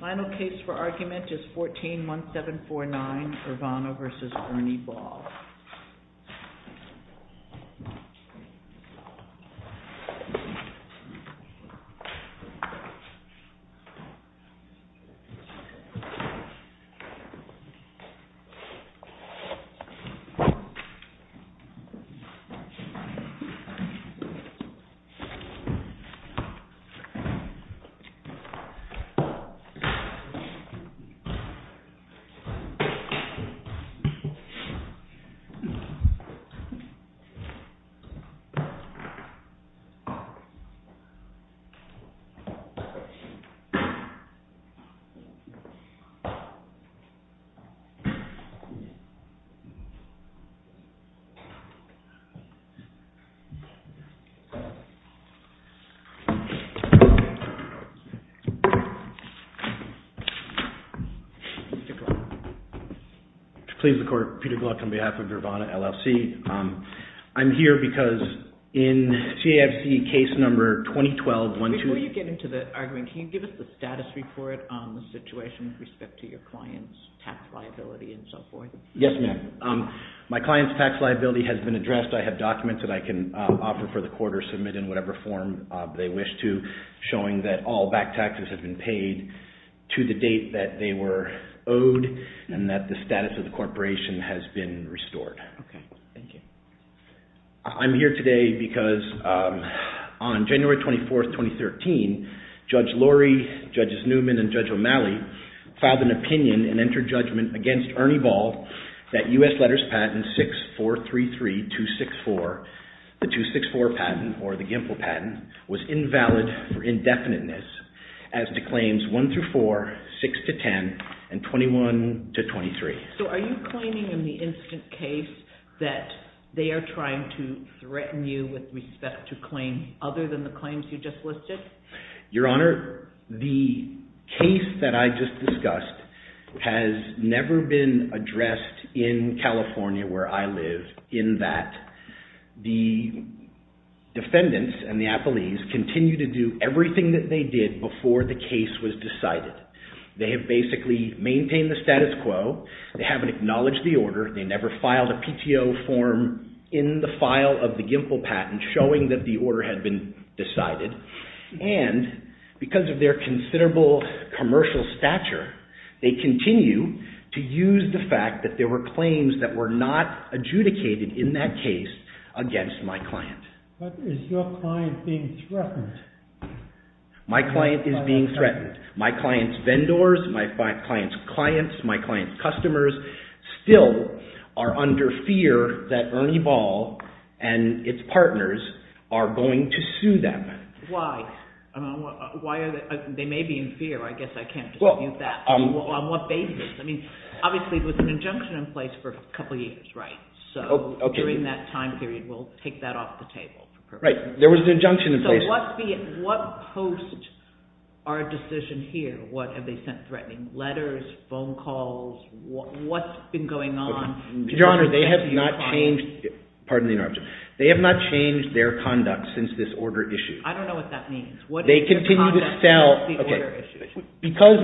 Final case for argument is 14-1749, Ervana v. Ernie Ball. Ernie Ball v. Ernie Ball, Inc. Before you get into the argument, can you give us the status report on the situation with respect to your client's tax liability and so forth? Yes, ma'am. My client's tax liability has been addressed. I have documents that I can offer for the court or submit in whatever form they wish to showing that all back taxes have been paid to the date that they were owed and that the status of the corporation has been restored. Okay. Thank you. I'm here today because on January 24, 2013, Judge Lurie, Judges Newman and Judge O'Malley filed an opinion and entered judgment against Ernie Ball that U.S. Letters Patent 6433264, the 264 patent or the GIMPO patent, was invalid for indefiniteness as to claims 1-4, 6-10, and 21-23. So are you claiming in the instant case that they are trying to threaten you with respect to claims other than the claims you just listed? Your Honor, the case that I just discussed has never been addressed in California where I live in that the defendants and the appellees continue to do everything that they did before the case was decided. They have basically maintained the status quo. They haven't acknowledged the order. They never filed a PTO form in the file of the GIMPO patent showing that the order had been decided. And because of their considerable commercial stature, they continue to use the fact that there were claims that were not adjudicated in that case against my client. But is your client being threatened? My client is being threatened. My client's vendors, my client's clients, my client's customers still are under fear that Ernie Ball and its partners are going to sue them. Why? They may be in fear. I guess I can't dispute that. On what basis? I mean, obviously there was an injunction in place for a couple of years, right? So during that time period, we'll take that off the table. Right. There was an injunction in place. So what post, our decision here, what have they sent threatening? Letters? Phone calls? What's been going on? Your Honor, they have not changed their conduct since this order issued. I don't know what that means. Because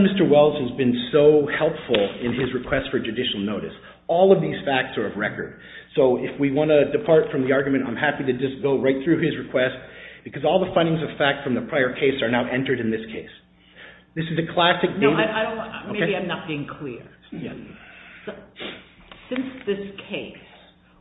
Mr. Wells has been so helpful in his request for judicial notice, all of these facts are of record. So if we want to depart from the argument, I'm happy to just go right through his request because all the findings of fact from the prior case are now entered in this case. This is a classic case. Maybe I'm not being clear. Since this case,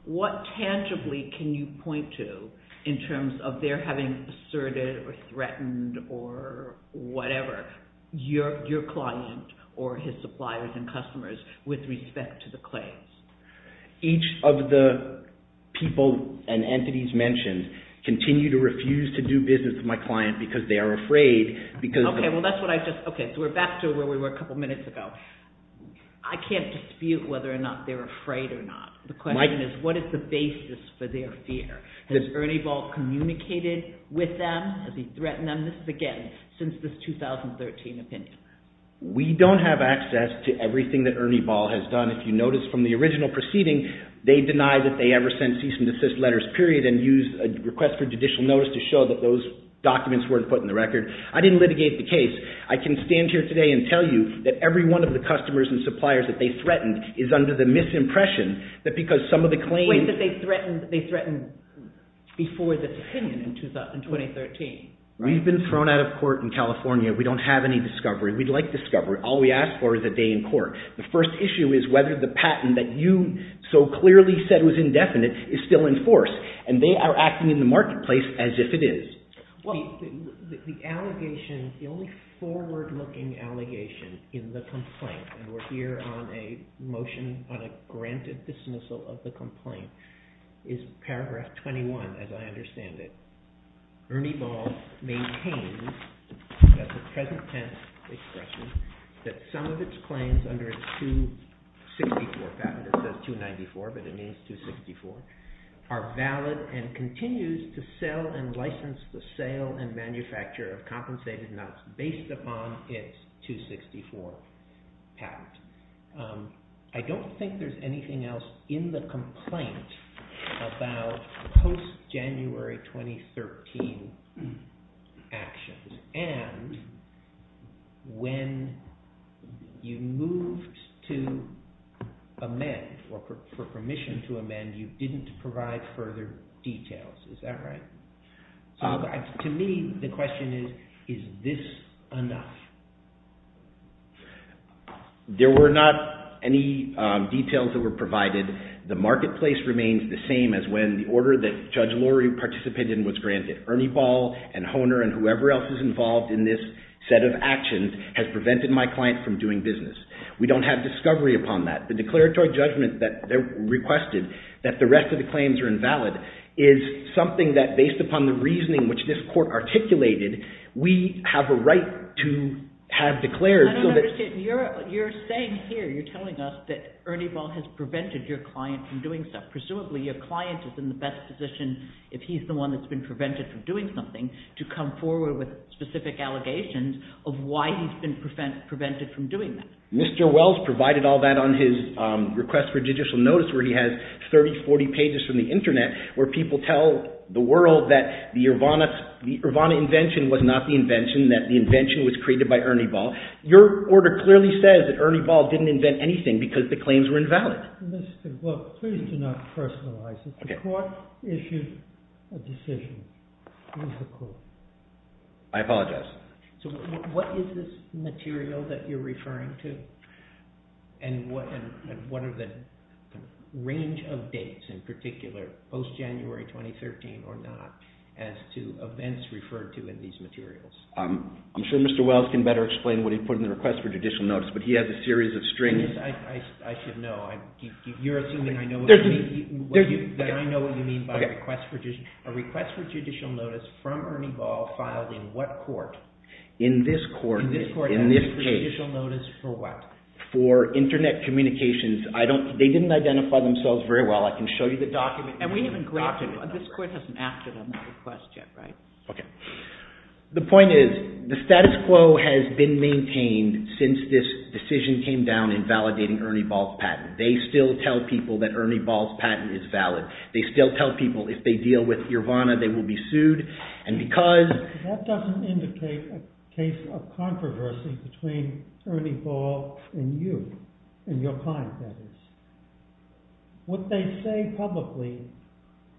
what tangibly can you point to in terms of their having asserted or threatened or whatever your client or his suppliers and customers with respect to the claims? Each of the people and entities mentioned continue to refuse to do business with my client because they are afraid. Okay, so we're back to where we were a couple of minutes ago. I can't dispute whether or not they're afraid or not. The question is what is the basis for their fear? Has Ernie Ball communicated with them? Has he threatened them? This is, again, since this 2013 opinion. We don't have access to everything that Ernie Ball has done. If you notice from the original proceeding, they denied that they ever sent cease and desist letters, period, and used a request for judicial notice to show that those documents weren't put in the record. I didn't litigate the case. I can stand here today and tell you that every one of the customers and suppliers that they threatened is under the misimpression that because some of the claims— We've been thrown out of court in California. We don't have any discovery. We'd like discovery. All we ask for is a day in court. The first issue is whether the patent that you so clearly said was indefinite is still in force, and they are acting in the marketplace as if it is. The only forward-looking allegation in the complaint, and we're here on a motion on a Ernie Ball maintains, that's a present tense expression, that some of its claims under its 264 patent—it says 294, but it means 264—are valid and continues to sell and license the sale and manufacture of compensated nuts based upon its 264 patent. I don't think there's anything else in the complaint about post-January 2013 actions, and when you moved to amend or for permission to amend, you didn't provide further details. Is that right? To me, the question is, is this enough? There were not any details that were provided. The marketplace remains the same as when the order that Judge Lurie participated in was granted. Ernie Ball and Hohner and whoever else is involved in this set of actions has prevented my client from doing business. We don't have discovery upon that. The declaratory judgment that they requested, that the rest of the claims are invalid, is something that, based upon the reasoning which this court articulated, we have a right to have declared. I don't understand. You're saying here, you're telling us that Ernie Ball has prevented your client from doing stuff. Presumably your client is in the best position, if he's the one that's been prevented from doing something, to come forward with specific allegations of why he's been prevented from doing that. Mr. Wells provided all that on his request for judicial notice, where he has 30, 40 pages from the internet, where people tell the world that the Urvana invention was not the invention, that the invention was created by Ernie Ball. Your order clearly says that Ernie Ball didn't invent anything because the claims were invalid. Mr. Wells, please do not personalize it. The court issued a decision. It was the court. I apologize. So what is this material that you're referring to? And what are the range of dates in particular, post-January 2013 or not, as to events referred to in these materials? I'm sure Mr. Wells can better explain what he put in the request for judicial notice, but he has a series of strings. I should know. You're assuming that I know what you mean by a request for judicial notice from Ernie Ball, filed in what court? In this court, in this case. Judicial notice for what? For internet communications. They didn't identify themselves very well. I can show you the document. And we haven't grabbed it. This court hasn't acted on that request yet, right? Okay. The point is, the status quo has been maintained since this decision came down in validating Ernie Ball's patent. They still tell people that Ernie Ball's patent is valid. They still tell people if they deal with Urvana, they will be sued. That doesn't indicate a case of controversy between Ernie Ball and you, and your client, that is. What they say publicly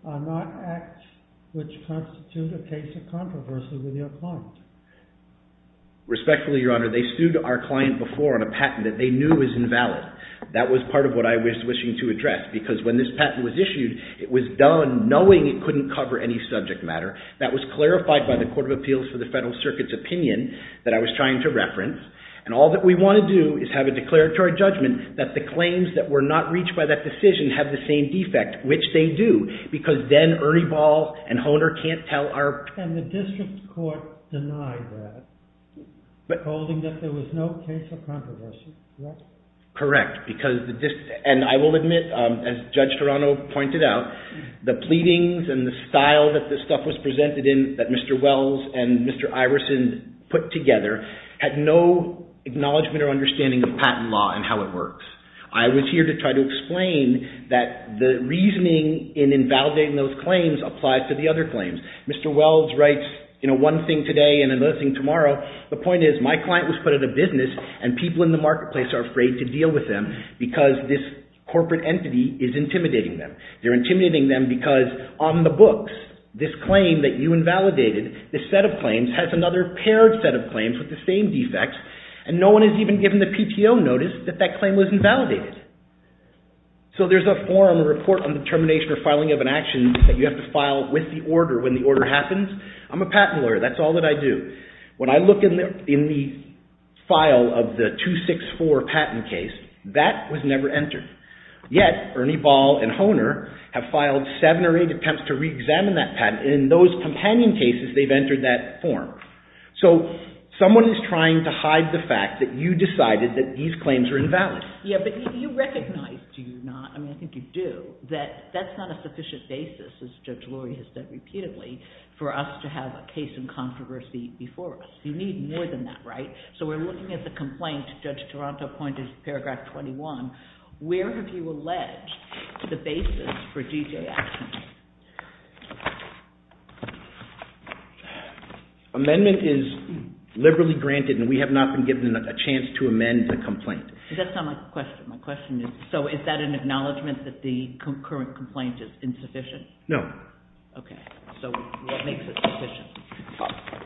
are not acts which constitute a case of controversy with your client. Respectfully, Your Honor, they sued our client before on a patent that they knew was invalid. That was part of what I was wishing to address. Because when this patent was issued, it was done knowing it couldn't cover any subject matter. That was clarified by the Court of Appeals for the Federal Circuit's opinion that I was trying to reference. And all that we want to do is have a declaratory judgment that the claims that were not reached by that decision have the same defect, which they do. Because then Ernie Ball and Hohner can't tell our… And the district court denied that, holding that there was no case of controversy. Correct. And I will admit, as Judge Toronto pointed out, the pleadings and the style that this stuff was presented in, that Mr. Wells and Mr. Iverson put together, had no acknowledgement or understanding of patent law and how it works. I was here to try to explain that the reasoning in invalidating those claims applies to the other claims. Mr. Wells writes one thing today and another thing tomorrow. The point is, my client was put in a business and people in the marketplace are afraid to use them because this corporate entity is intimidating them. They're intimidating them because on the books, this claim that you invalidated, this set of claims, has another paired set of claims with the same defects, and no one has even given the PTO notice that that claim was invalidated. So there's a form, a report on the termination or filing of an action that you have to file with the order when the order happens. I'm a patent lawyer. That's all that I do. When I look in the file of the 264 patent case, that was never entered. Yet, Ernie Ball and Hohner have filed seven or eight attempts to reexamine that patent, and in those companion cases, they've entered that form. So someone is trying to hide the fact that you decided that these claims are invalid. Yeah, but you recognize, do you not? I mean, I think you do, that that's not a sufficient basis, as Judge Lurie has said before us. You need more than that, right? So we're looking at the complaint. Judge Toronto pointed to paragraph 21. Where have you alleged the basis for DJ actions? Amendment is liberally granted, and we have not been given a chance to amend the complaint. That's not my question. My question is, so is that an acknowledgment that the concurrent complaint is insufficient? No. Okay. So what makes it sufficient?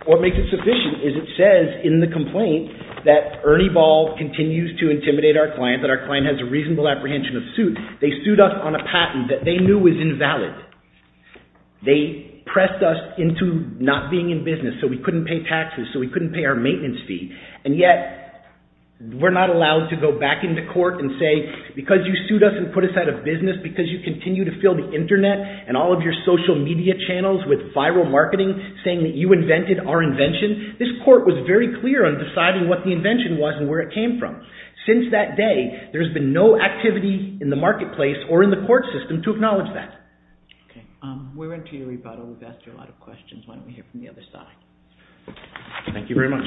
What makes it sufficient is it says in the complaint that Ernie Ball continues to intimidate our client, that our client has a reasonable apprehension of suit. They sued us on a patent that they knew was invalid. They pressed us into not being in business, so we couldn't pay taxes, so we couldn't pay our maintenance fee. And yet, we're not allowed to go back into court and say, because you sued us and put us out of business, because you continue to fill the Internet and all of your social media channels with viral marketing saying that you invented our invention, this court was very clear on deciding what the invention was and where it came from. Since that day, there's been no activity in the marketplace or in the court system to acknowledge that. Okay. We went to you, we've asked you a lot of questions. Why don't we hear from the other side? Thank you very much.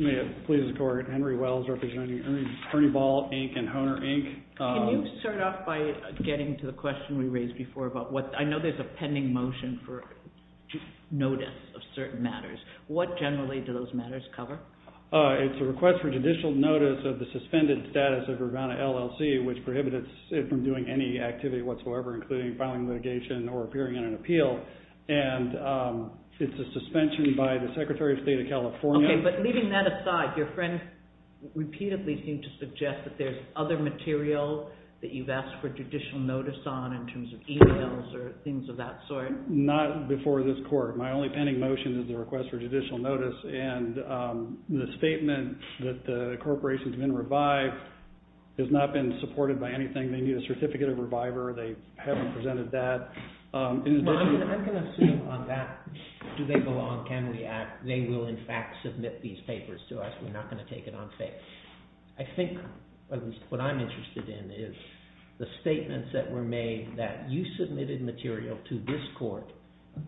May it please the court, Henry Wells representing Ernie Ball, Inc. and Hohner, Inc. Can you start off by getting to the question we raised before about what, I know there's a pending motion for notice of certain matters. What generally do those matters cover? It's a request for judicial notice of the suspended status of Urbana LLC, which prohibits it from doing any activity whatsoever, including filing litigation or appearing in an appeal, and it's a suspension by the Secretary of State of California. Okay, but leaving that aside, your friend repeatedly seemed to suggest that there's other material that you've asked for judicial notice on in terms of emails or things of that sort. Not before this court. My only pending motion is the request for judicial notice, and the statement that the has not been supported by anything. They need a certificate of reviver. They haven't presented that. I'm going to assume on that, do they belong, can we act, they will in fact submit these papers to us. We're not going to take it on faith. I think what I'm interested in is the statements that were made that you submitted material to this court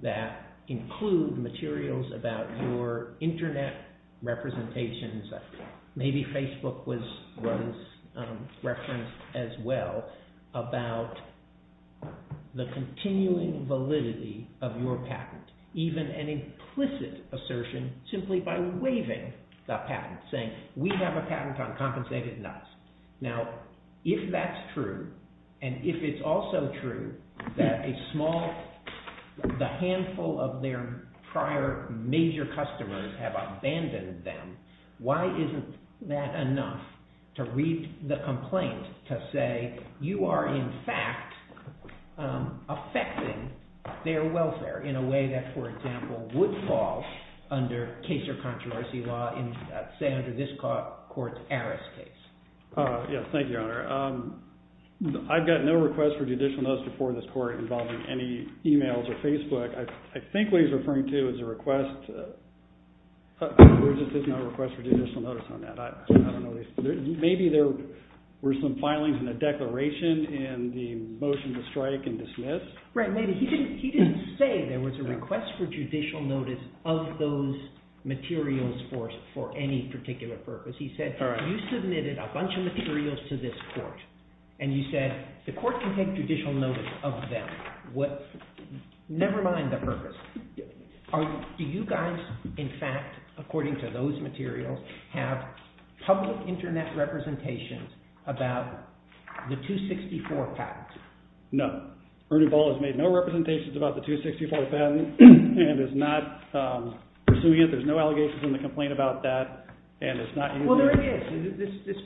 that include materials about your internet representations, maybe Facebook was referenced as well, about the continuing validity of your patent, even an implicit assertion simply by waiving the patent, saying we have a patent on compensated nuts. Now, if that's true, and if it's also true that a small, the handful of their prior major customers have abandoned them, why isn't that enough to read the complaint to say you are in fact affecting their welfare in a way that, for example, would fall under case or controversy law, say under this court's Aris case. Yes, thank you, Your Honor. I've got no request for judicial notice before this court involving any emails or Facebook. I think what he's referring to is a request, or is this not a request for judicial notice on that? I don't know. Maybe there were some filings in the declaration in the motion to strike and dismiss. Right, maybe. He didn't say there was a request for judicial notice of those materials for any particular purpose. He said you submitted a bunch of materials to this court, and you said the court can take judicial notice of them. Never mind the purpose. Do you guys, in fact, according to those materials, have public internet representations about the 264 patent? No. Ernie Ball has made no representations about the 264 patent and is not pursuing it. There's no allegations in the complaint about that. Well, there is. It's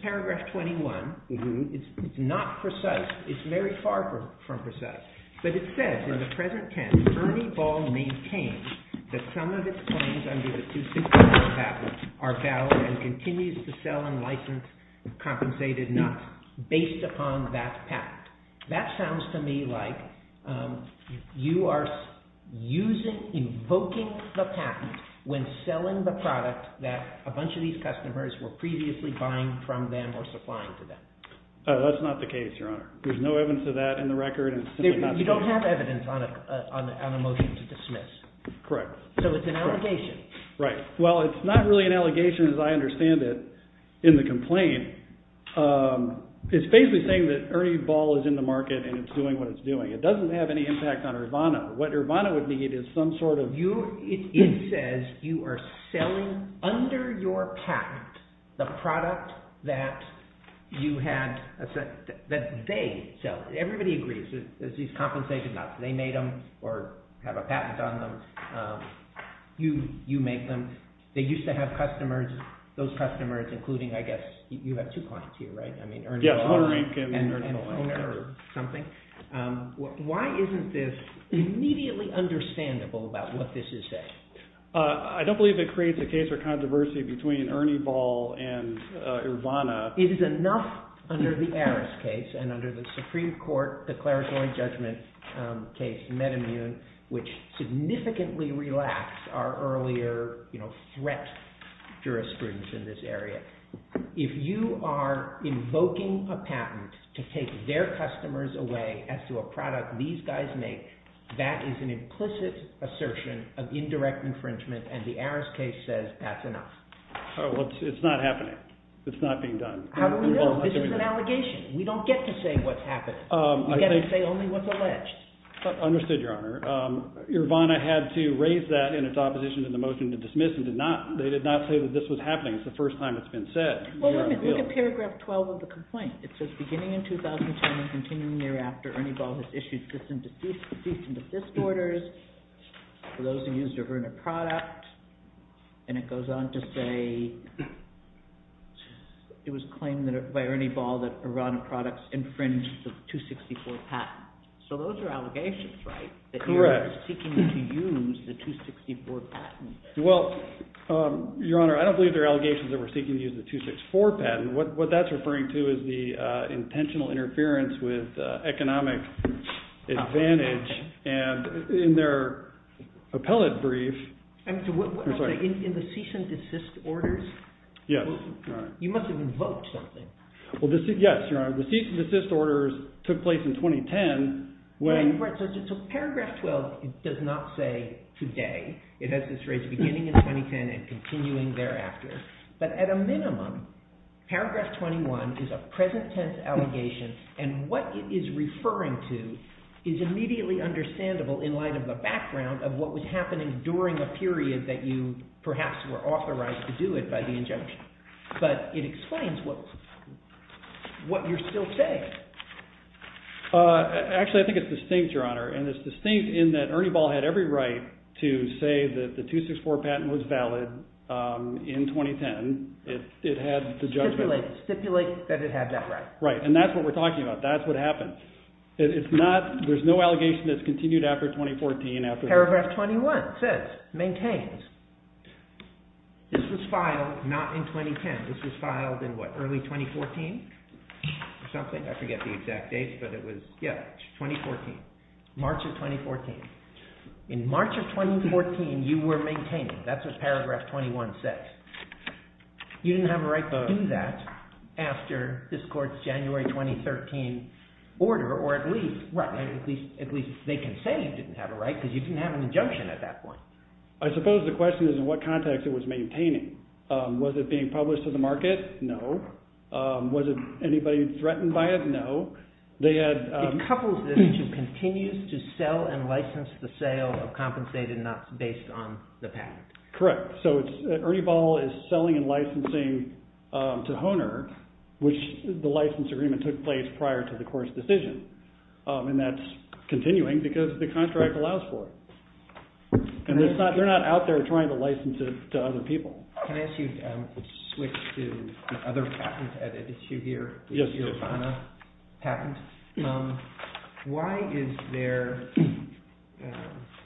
very far from precise. But it says in the present tent, Ernie Ball maintains that some of his claims under the 264 patent are valid and continues to sell and license compensated nuts based upon that patent. That sounds to me like you are using, invoking the patent when selling the product that a bunch of these customers were previously buying from them or supplying to them. That's not the case, Your Honor. There's no evidence of that in the record. You don't have evidence on a motion to dismiss. Correct. So it's an allegation. Right. Well, it's not really an allegation as I understand it in the complaint. It's basically saying that Ernie Ball is in the market and it's doing what it's doing. It doesn't have any impact on Urbano. What Urbano would need is some sort of... It says you are selling under your patent the product that they sell. Everybody agrees. There's these compensated nuts. They made them or have a patent on them. You make them. They used to have customers, those customers including, I guess, you have two clients here, right? Yeah. Why isn't this immediately understandable about what this is saying? I don't believe it creates a case or controversy between Ernie Ball and Urbano. It is enough under the Aris case and under the Supreme Court declaratory judgment case, MedImmune, which significantly relaxed our earlier threat jurisprudence in this area. If you are invoking a patent to take their customers away as to a product these guys make, that is an implicit assertion of indirect infringement and the Aris case says that's enough. Well, it's not happening. It's not being done. How do we know? This is an allegation. We don't get to say what's happening. We get to say only what's alleged. Understood, Your Honor. Urbano had to raise that in its opposition to the motion to dismiss and they did not say that this was happening. It's the first time it's been said. Well, let me look at paragraph 12 of the complaint. It says, beginning in 2010 and continuing thereafter, Ernie Ball has issued decent assist orders for those who used Urbano product. And it goes on to say it was claimed by Ernie Ball that Urbano products infringed the 264 patent. So those are allegations, right? Correct. That he was seeking to use the 264 patent. Well, Your Honor, I don't believe they're allegations that we're seeking to use the 264 patent. What that's referring to is the intentional interference with economic advantage and in their appellate brief. I'm sorry. In the cease and desist orders? Yes. You must have invoked something. Well, yes, Your Honor. The cease and desist orders took place in 2010. So paragraph 12 does not say today. It has this phrase, beginning in 2010 and continuing thereafter. But at a minimum, paragraph 21 is a present tense allegation. And what it is referring to is immediately understandable in light of the background of what was happening during a period that you perhaps were authorized to do it by the injunction. But it explains what you're still saying. Actually, I think it's distinct, Your Honor. And it's distinct in that Ernie Ball had every right to say that the 264 patent was valid in 2010. It had the judgment. Stipulate that it had that right. Right. And that's what we're talking about. That's what happened. There's no allegation that's continued after 2014. Paragraph 21 says, maintains, this was filed not in 2010. This was filed in what, early 2014 or something? I forget the exact dates, but it was, yeah, 2014. March of 2014. In March of 2014, you were maintaining. That's what paragraph 21 says. You didn't have a right to do that after this court's January 2013 order, or at least, right, at least they can say you didn't have a right because you didn't have an injunction at that point. I suppose the question is in what context it was maintaining. Was it being published to the market? No. Was it anybody threatened by it? No. They had... It couples this to continues to sell and license the sale of compensated not based on the patent. Correct. So Ernie Ball is selling and licensing to HONOR, which the license agreement took place prior to the court's decision. And that's continuing because the contract allows for it. And they're not out there trying to license it to other people. Can I ask you to switch to other patents at issue here? Yes. The HONOR patent. Why is there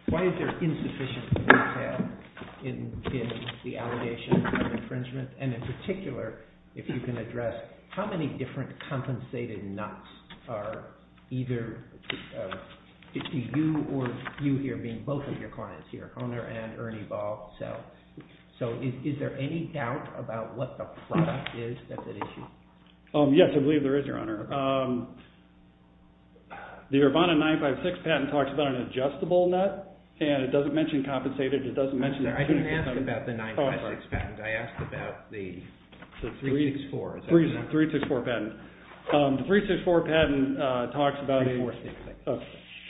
insufficient detail in the allegations of infringement? And in particular, if you can address how many different compensated nots are either you or you here being both of your clients here, HONOR and Ernie Ball. So is there any doubt about what the product is that's at issue? Yes, I believe there is, Your Honor. The Urbana 956 patent talks about an adjustable nut. And it doesn't mention compensated. I didn't ask about the 956 patent. I asked about the 364. The 364 patent. The 364 patent talks about a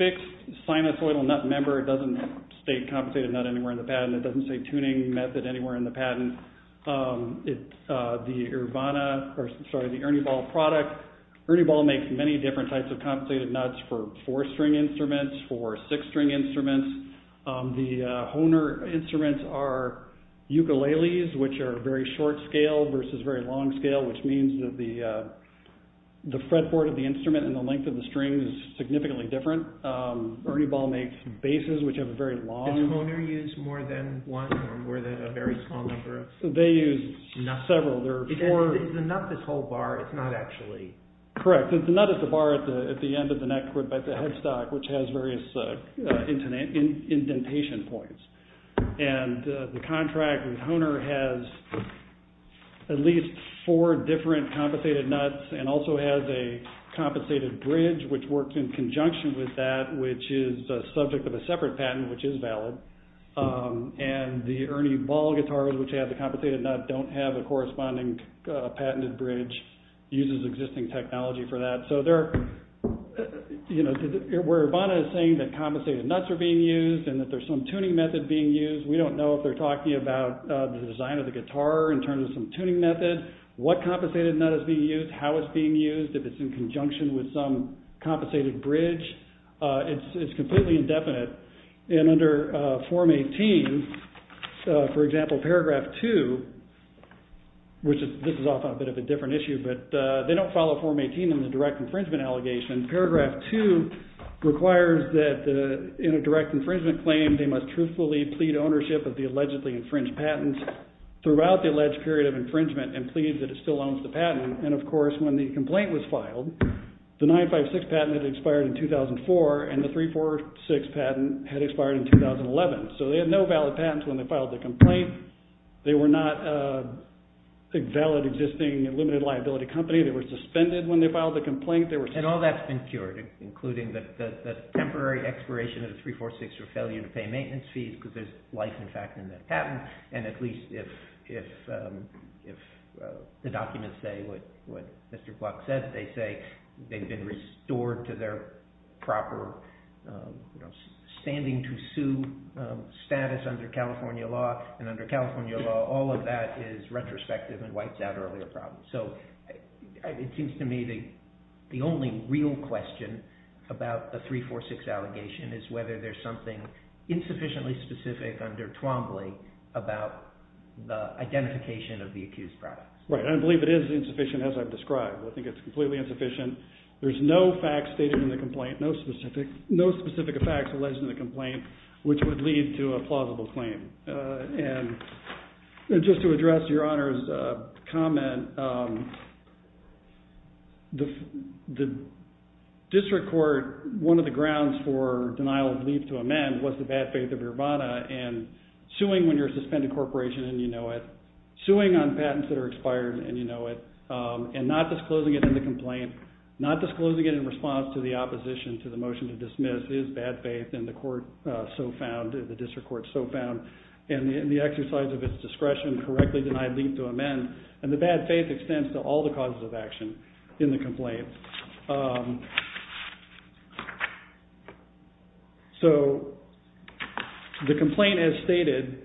fixed sinusoidal nut member. It doesn't state compensated nut anywhere in the patent. It doesn't say tuning method anywhere in the patent. The Urbana, or sorry, the Ernie Ball product. Ernie Ball makes many different types of compensated nuts for four-string instruments, for six-string instruments. The HONOR instruments are ukuleles, which are very short scale versus very long scale, which means that the fretboard of the instrument and the length of the string is significantly different. Ernie Ball makes basses, which are very long. Does HONOR use more than one or more than a very small number of nuts? They use several. There are four. If the nut is a whole bar, it's not actually. Correct. The nut is the bar at the end of the neck or at the headstock, which has various indentation points. The contract with HONOR has at least four different compensated nuts and also has a compensated bridge, which works in conjunction with that, which is a subject of a separate patent, which is valid. The Ernie Ball guitars, which have the compensated nut, don't have a corresponding patented bridge. It uses existing technology for that. Where Urbana is saying that compensated nuts are being used and that there's some tuning method being used. We don't know if they're talking about the design of the guitar in terms of some tuning method, what compensated nut is being used, how it's being used, if it's in conjunction with some compensated bridge. It's completely indefinite. Under Form 18, for example, Paragraph 2, which this is often a bit of a different issue, but they don't follow Form 18 in the direct infringement allegation. Paragraph 2 requires that in a direct infringement claim, they must truthfully plead ownership of the allegedly infringed patent throughout the alleged period of infringement and plead that it still owns the patent. Of course, when the complaint was filed, the 956 patent had expired in 2004 and the 346 patent had expired in 2011. They had no valid patents when they filed the complaint. They were not a valid existing limited liability company. They were suspended when they filed the complaint. All that's been cured, including the temporary expiration of the 346 for failure to pay maintenance fees because there's life in fact in that patent, and at least if the documents say what Mr. Block said, they say they've been restored to their proper standing to sue status under California law, and under California law, all of that is retrospective and wipes out earlier problems. So it seems to me the only real question about the 346 allegation is whether there's something insufficiently specific under Twombly about the identification of the accused product. Right, and I believe it is insufficient as I've described. I think it's completely insufficient. There's no fact stated in the complaint, no specific facts alleged in the complaint, which would lead to a plausible claim. And just to address Your Honor's comment, the district court, one of the grounds for denial of leave to amend was the bad faith of Urbana, and suing when you're a suspended corporation and you know it, suing on patents that are expired and you know it, and not disclosing it in the complaint, not disclosing it in response to the opposition to the motion to dismiss is bad faith, and the court so found, the district court so found, and the exercise of its discretion correctly denied leave to amend, and the bad faith extends to all the causes of action in the complaint. So the complaint as stated,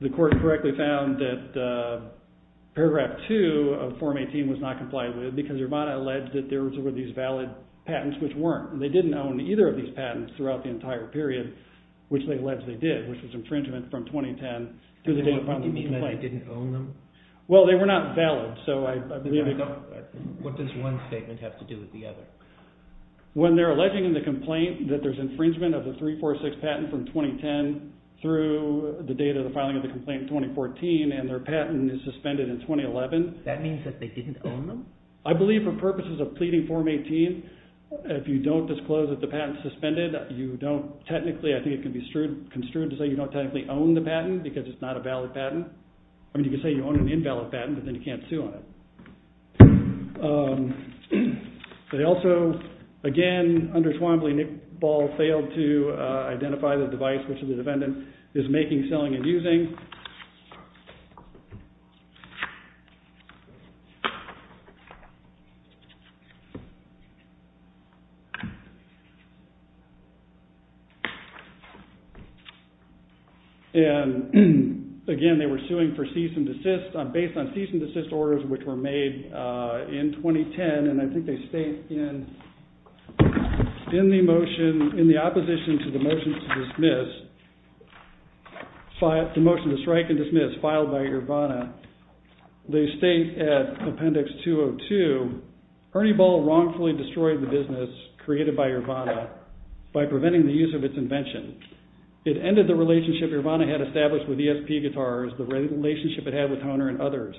the court correctly found that paragraph 2 of Form 18 was not complied with because Urbana alleged that there were these valid patents which weren't. They didn't own either of these patents throughout the entire period, which they alleged they did, which was infringement from 2010 through the date of the filing of the complaint. You mean they didn't own them? Well, they were not valid. What does one statement have to do with the other? When they're alleging in the complaint that there's infringement of the 346 patent from 2010 through the date of the filing of the complaint in 2014 and their patent is suspended in 2011. That means that they didn't own them? I believe for purposes of pleading Form 18, if you don't disclose that the patent is suspended, you don't technically, I think it can be construed to say you don't technically own the patent because it's not a valid patent. I mean you can say you own an invalid patent, but then you can't sue on it. They also, again, under Swambley, Ball failed to identify the device which the defendant is making, selling, and using. Again, they were suing for cease and desist based on cease and desist orders which were made in 2010 and I think they state in the motion, in the opposition to the motion to dismiss, the motion to strike and dismiss filed by Urvana, they state at Appendix 202, Ernie Ball wrongfully destroyed the business created by Urvana by preventing the use of its invention. It ended the relationship Urvana had established with ESP Guitars, the relationship it had with Hohner and others.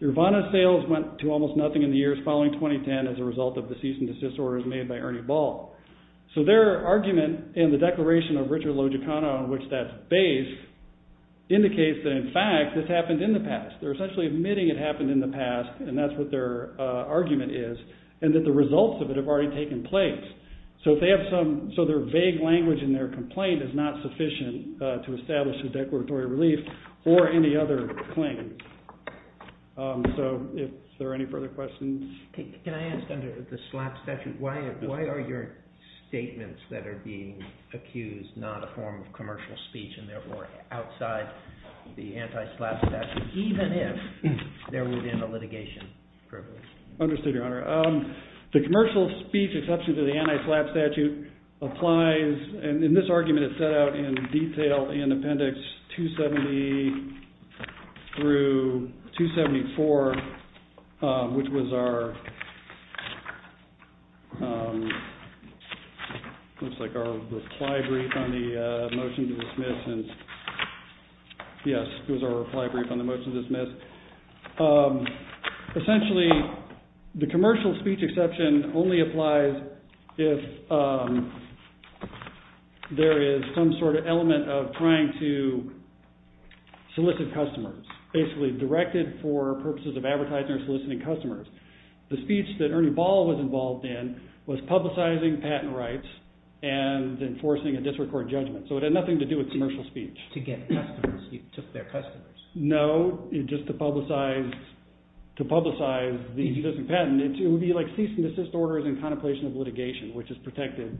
Urvana's sales went to almost nothing in the years following 2010 as a result of the cease and desist orders made by Ernie Ball. So their argument in the declaration of Richard Logicano, on which that's based, indicates that in fact this happened in the past. They're essentially admitting it happened in the past and that's what their argument is and that the results of it have already taken place. So their vague language in their complaint is not sufficient to establish a declaratory relief or any other claim. So if there are any further questions? Can I ask under the SLAP statute, why are your statements that are being accused not a form of commercial speech and therefore outside the anti-SLAP statute, even if there would have been a litigation? Understood, Your Honor. The commercial speech exception to the anti-SLAP statute applies, and in this argument it's set out in detail in Appendix 270 through 274, which was our reply brief on the motion to dismiss. Essentially, the commercial speech exception only applies if there is some sort of element of trying to solicit customers, basically directed for purposes of advertising or soliciting customers. The speech that Ernie Ball was involved in was publicizing patent rights and enforcing a disrecorded judgment, so it had nothing to do with commercial speech. To get customers, you took their customers. No, just to publicize the existing patent. It would be like cease-and-desist orders in contemplation of litigation, which is protected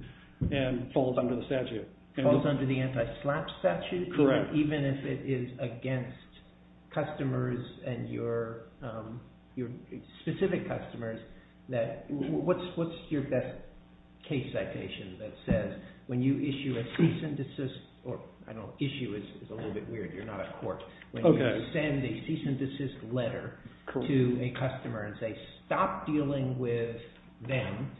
and falls under the statute. Falls under the anti-SLAP statute? Correct. Even if it is against customers and your specific customers, what's your best case citation that says, when you issue a cease-and-desist, or issue is a little bit weird, you're not a court, when you send a cease-and-desist letter to a customer and say, stop dealing with them,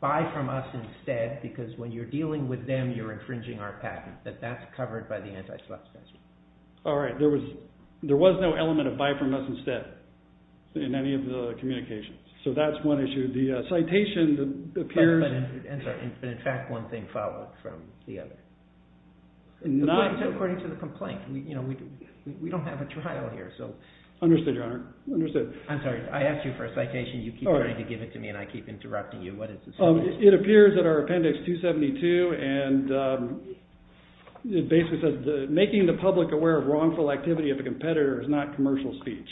buy from us instead, because when you're dealing with them, you're infringing our patent, that that's covered by the anti-SLAP statute. All right. There was no element of buy from us instead in any of the communications, so that's one issue. The citation appears… But in fact, one thing followed from the other. According to the complaint. We don't have a trial here, so… Understood, Your Honor. Understood. I'm sorry, I asked you for a citation, you keep trying to give it to me, and I keep interrupting you. What is the citation? It appears in our Appendix 272, and it basically says, making the public aware of wrongful activity of a competitor is not commercial speech.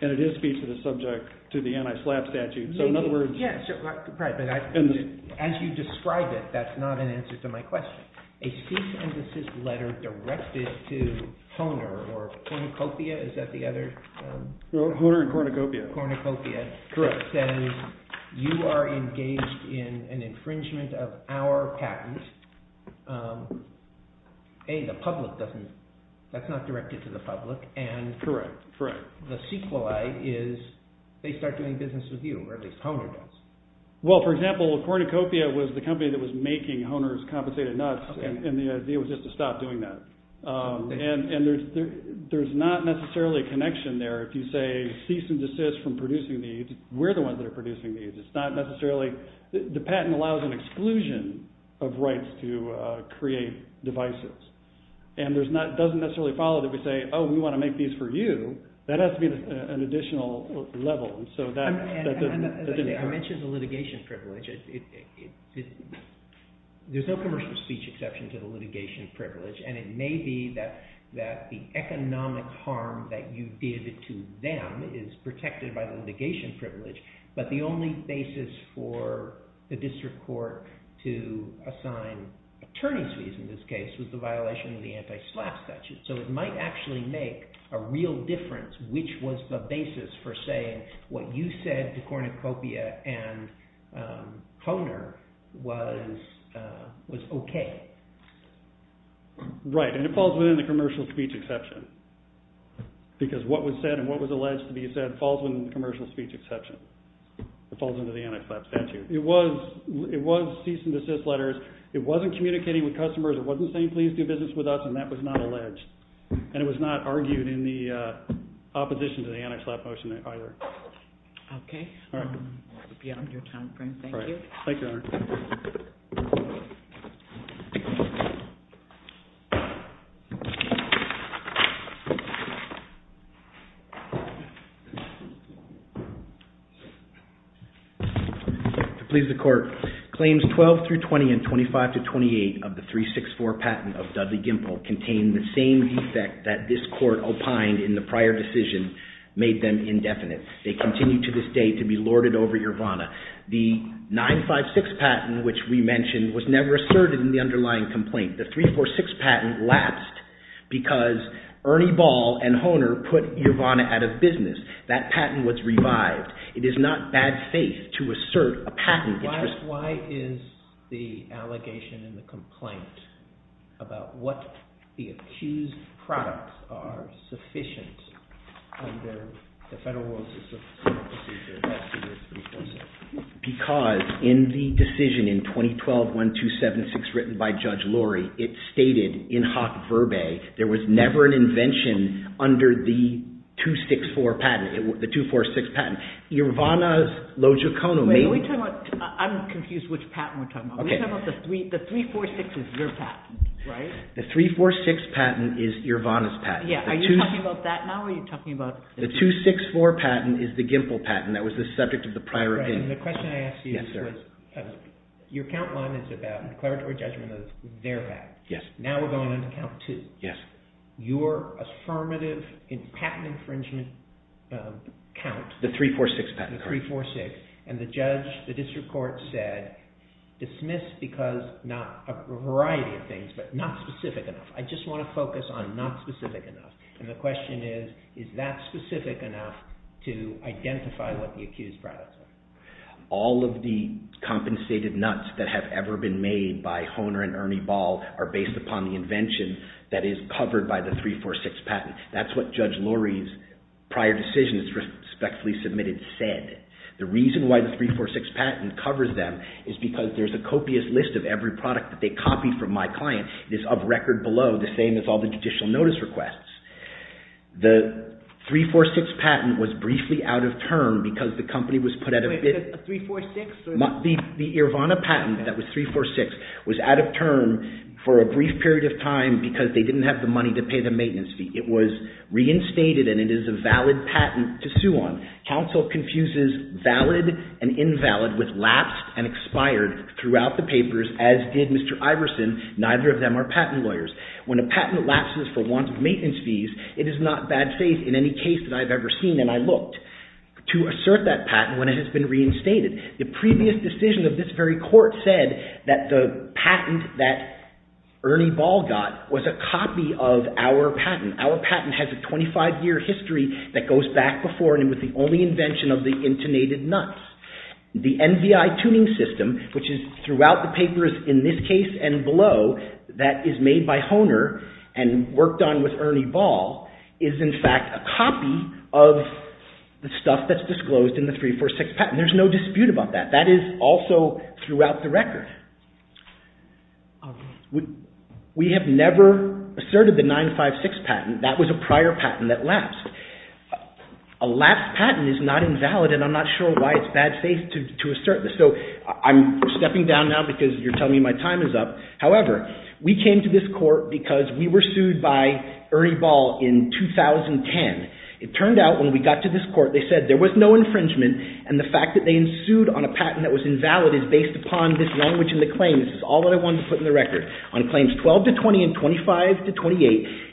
And it is speech that is subject to the anti-SLAP statute. So in other words… Yes, right, but as you describe it, that's not an answer to my question. A cease-and-desist letter directed to Toner, or Cornucopia, is that the other… Hohner and Cornucopia. Cornucopia. Correct. It says, you are engaged in an infringement of our patent. A, the public doesn't… that's not directed to the public, and… Correct, correct. The sequelae is, they start doing business with you, or at least Hohner does. Well, for example, Cornucopia was the company that was making Hohner's compensated nuts, and the idea was just to stop doing that. And there's not necessarily a connection there. If you say cease-and-desist from producing these, we're the ones that are producing these. It's not necessarily… The patent allows an exclusion of rights to create devices. And there's not… it doesn't necessarily follow that we say, oh, we want to make these for you. That has to be an additional level. And so that… I mentioned the litigation privilege. There's no commercial speech exception to the litigation privilege, and it may be that the economic harm that you did to them is protected by the litigation privilege, but the only basis for the district court to assign attorney's fees in this case was the violation of the anti-SLAPP statute. So it might actually make a real difference which was the basis for saying what you said to Cornucopia and Hohner was OK. Right. And it falls within the commercial speech exception because what was said and what was alleged to be said falls within the commercial speech exception. It falls under the anti-SLAPP statute. It was cease-and-desist letters. It wasn't communicating with customers. It wasn't saying please do business with us, and that was not alleged. And it was not argued in the opposition to the anti-SLAPP motion either. OK. Beyond your time frame, thank you. Thank you, Honor. Thank you. To please the court. Claims 12 through 20 and 25 to 28 of the 364 patent of Dudley-Gimpel contain the same defect that this court opined in the prior decision made them indefinite. They continue to this day to be lorded over, Your Honor. The 956 patent, which we mentioned, was never asserted in the underlying complaint. The 346 patent lapsed because Ernie Ball and Hohner put your Honor out of business. That patent was revived. It is not bad faith to assert a patent interest. Why is the allegation in the complaint about what the accused products are sufficient under the Federal Rules of Substance Abuse Procedure less than the 346? Because in the decision in 2012-1276 written by Judge Lurie, it stated in hoc verbae there was never an invention under the 264 patent, the 246 patent. Irvana's logicono made- Wait. I'm confused which patent we're talking about. The 346 is your patent, right? The 346 patent is Irvana's patent. Yeah. Are you talking about that now or are you talking about- The 264 patent is the Gimpel patent. That was the subject of the prior hearing. And the question I asked you was, your count line is about declaratory judgment of their patent. Yes. Now we're going on to count two. Yes. Your affirmative patent infringement count- The 346 patent. The 346. And the judge, the district court said, dismiss because not a variety of things, but not specific enough. I just want to focus on not specific enough. And the question is, is that specific enough to identify what the accused products are? All of the compensated nuts that have ever been made by Hohner and Ernie Ball are based upon the invention that is covered by the 346 patent. That's what Judge Lurie's prior decisions, respectfully submitted, said. The reason why the 346 patent covers them is because there's a copious list of every product that they copied from my client. It is of record below the same as all the judicial notice requests. The 346 patent was briefly out of term because the company was put at a bit- Wait, because the 346- The Irvana patent that was 346 was out of term for a brief period of time because they didn't have the money to pay the maintenance fee. It was reinstated and it is a valid patent to sue on. Counsel confuses valid and invalid with lapsed and expired throughout the papers, as did Mr. Iverson. Neither of them are patent lawyers. When a patent lapses for want of maintenance fees, it is not bad faith in any case that I've ever seen. And I looked to assert that patent when it has been reinstated. The previous decision of this very court said that the patent that Ernie Ball got was a copy of our patent. Our patent has a 25-year history that goes back before and it was the only invention of the intonated nuts. The NBI tuning system, which is throughout the papers, in this case and below, that is made by Hohner and worked on with Ernie Ball, is in fact a copy of the stuff that's disclosed in the 3-4-6 patent. There's no dispute about that. That is also throughout the record. We have never asserted the 9-5-6 patent. That was a prior patent that lapsed. A lapsed patent is not invalid and I'm not sure why it's bad faith to assert this. So I'm stepping down now because you're telling me my time is up. However, we came to this court because we were sued by Ernie Ball in 2010. It turned out when we got to this court, they said there was no infringement and the fact that they ensued on a patent that was invalid is based upon this language in the claim. This is all that I wanted to put in the record. On claims 12-20 and 25-28,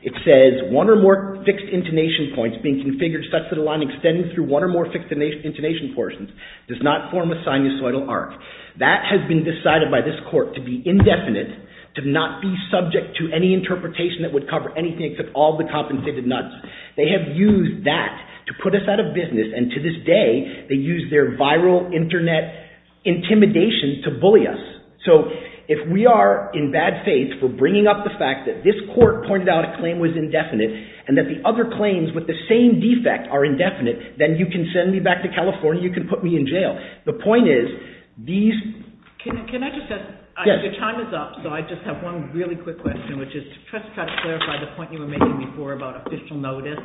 it says one or more fixed intonation points being configured such that a line extending through one or more fixed intonation portions does not form a sinusoidal arc. That has been decided by this court to be indefinite, to not be subject to any interpretation that would cover anything except all the compensated nots. They have used that to put us out of business and to this day, they use their viral internet intimidation to bully us. So if we are in bad faith for bringing up the fact that this court pointed out a claim was indefinite and that the other claims with the same defect are indefinite, then you can send me back to California, you can put me in jail. The point is these... Can I just ask... Your time is up, so I just have one really quick question, which is to just try to clarify the point you were making before about official notice,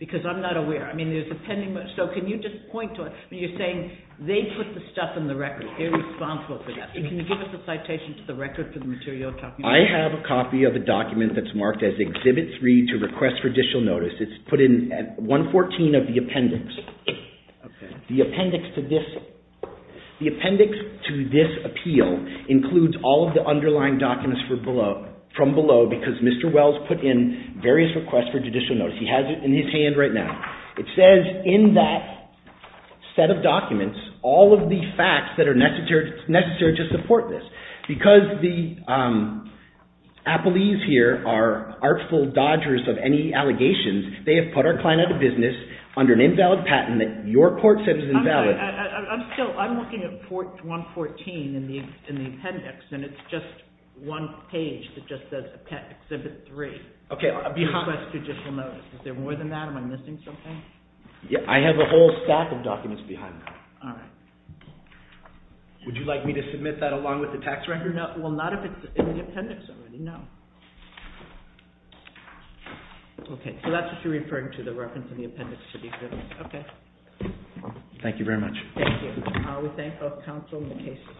because I'm not aware. I mean, there's a pending... So can you just point to it? You're saying they put the stuff in the record. They're responsible for that. Can you give us a citation to the record for the material you're talking about? I have a copy of a document that's marked as Exhibit 3 to Request for Additional Notice. It's put in 114 of the appendix. The appendix to this... includes all of the underlying documents from below because Mr. Wells put in various requests for judicial notice. He has it in his hand right now. It says in that set of documents all of the facts that are necessary to support this. Because the appellees here are artful dodgers of any allegations, they have put our client out of business under an invalid patent that your court says is invalid. I'm still... I'm looking at 114 in the appendix and it's just one page that just says Exhibit 3 to Request for Additional Notice. Is there more than that? Am I missing something? Yeah, I have a whole stack of documents behind that. All right. Would you like me to submit that along with the tax record? Well, not if it's in the appendix already, no. Okay, so that's what you're referring to, the reference in the appendix to the exhibit. Okay. Thank you very much. Thank you. We thank both counsel and the case.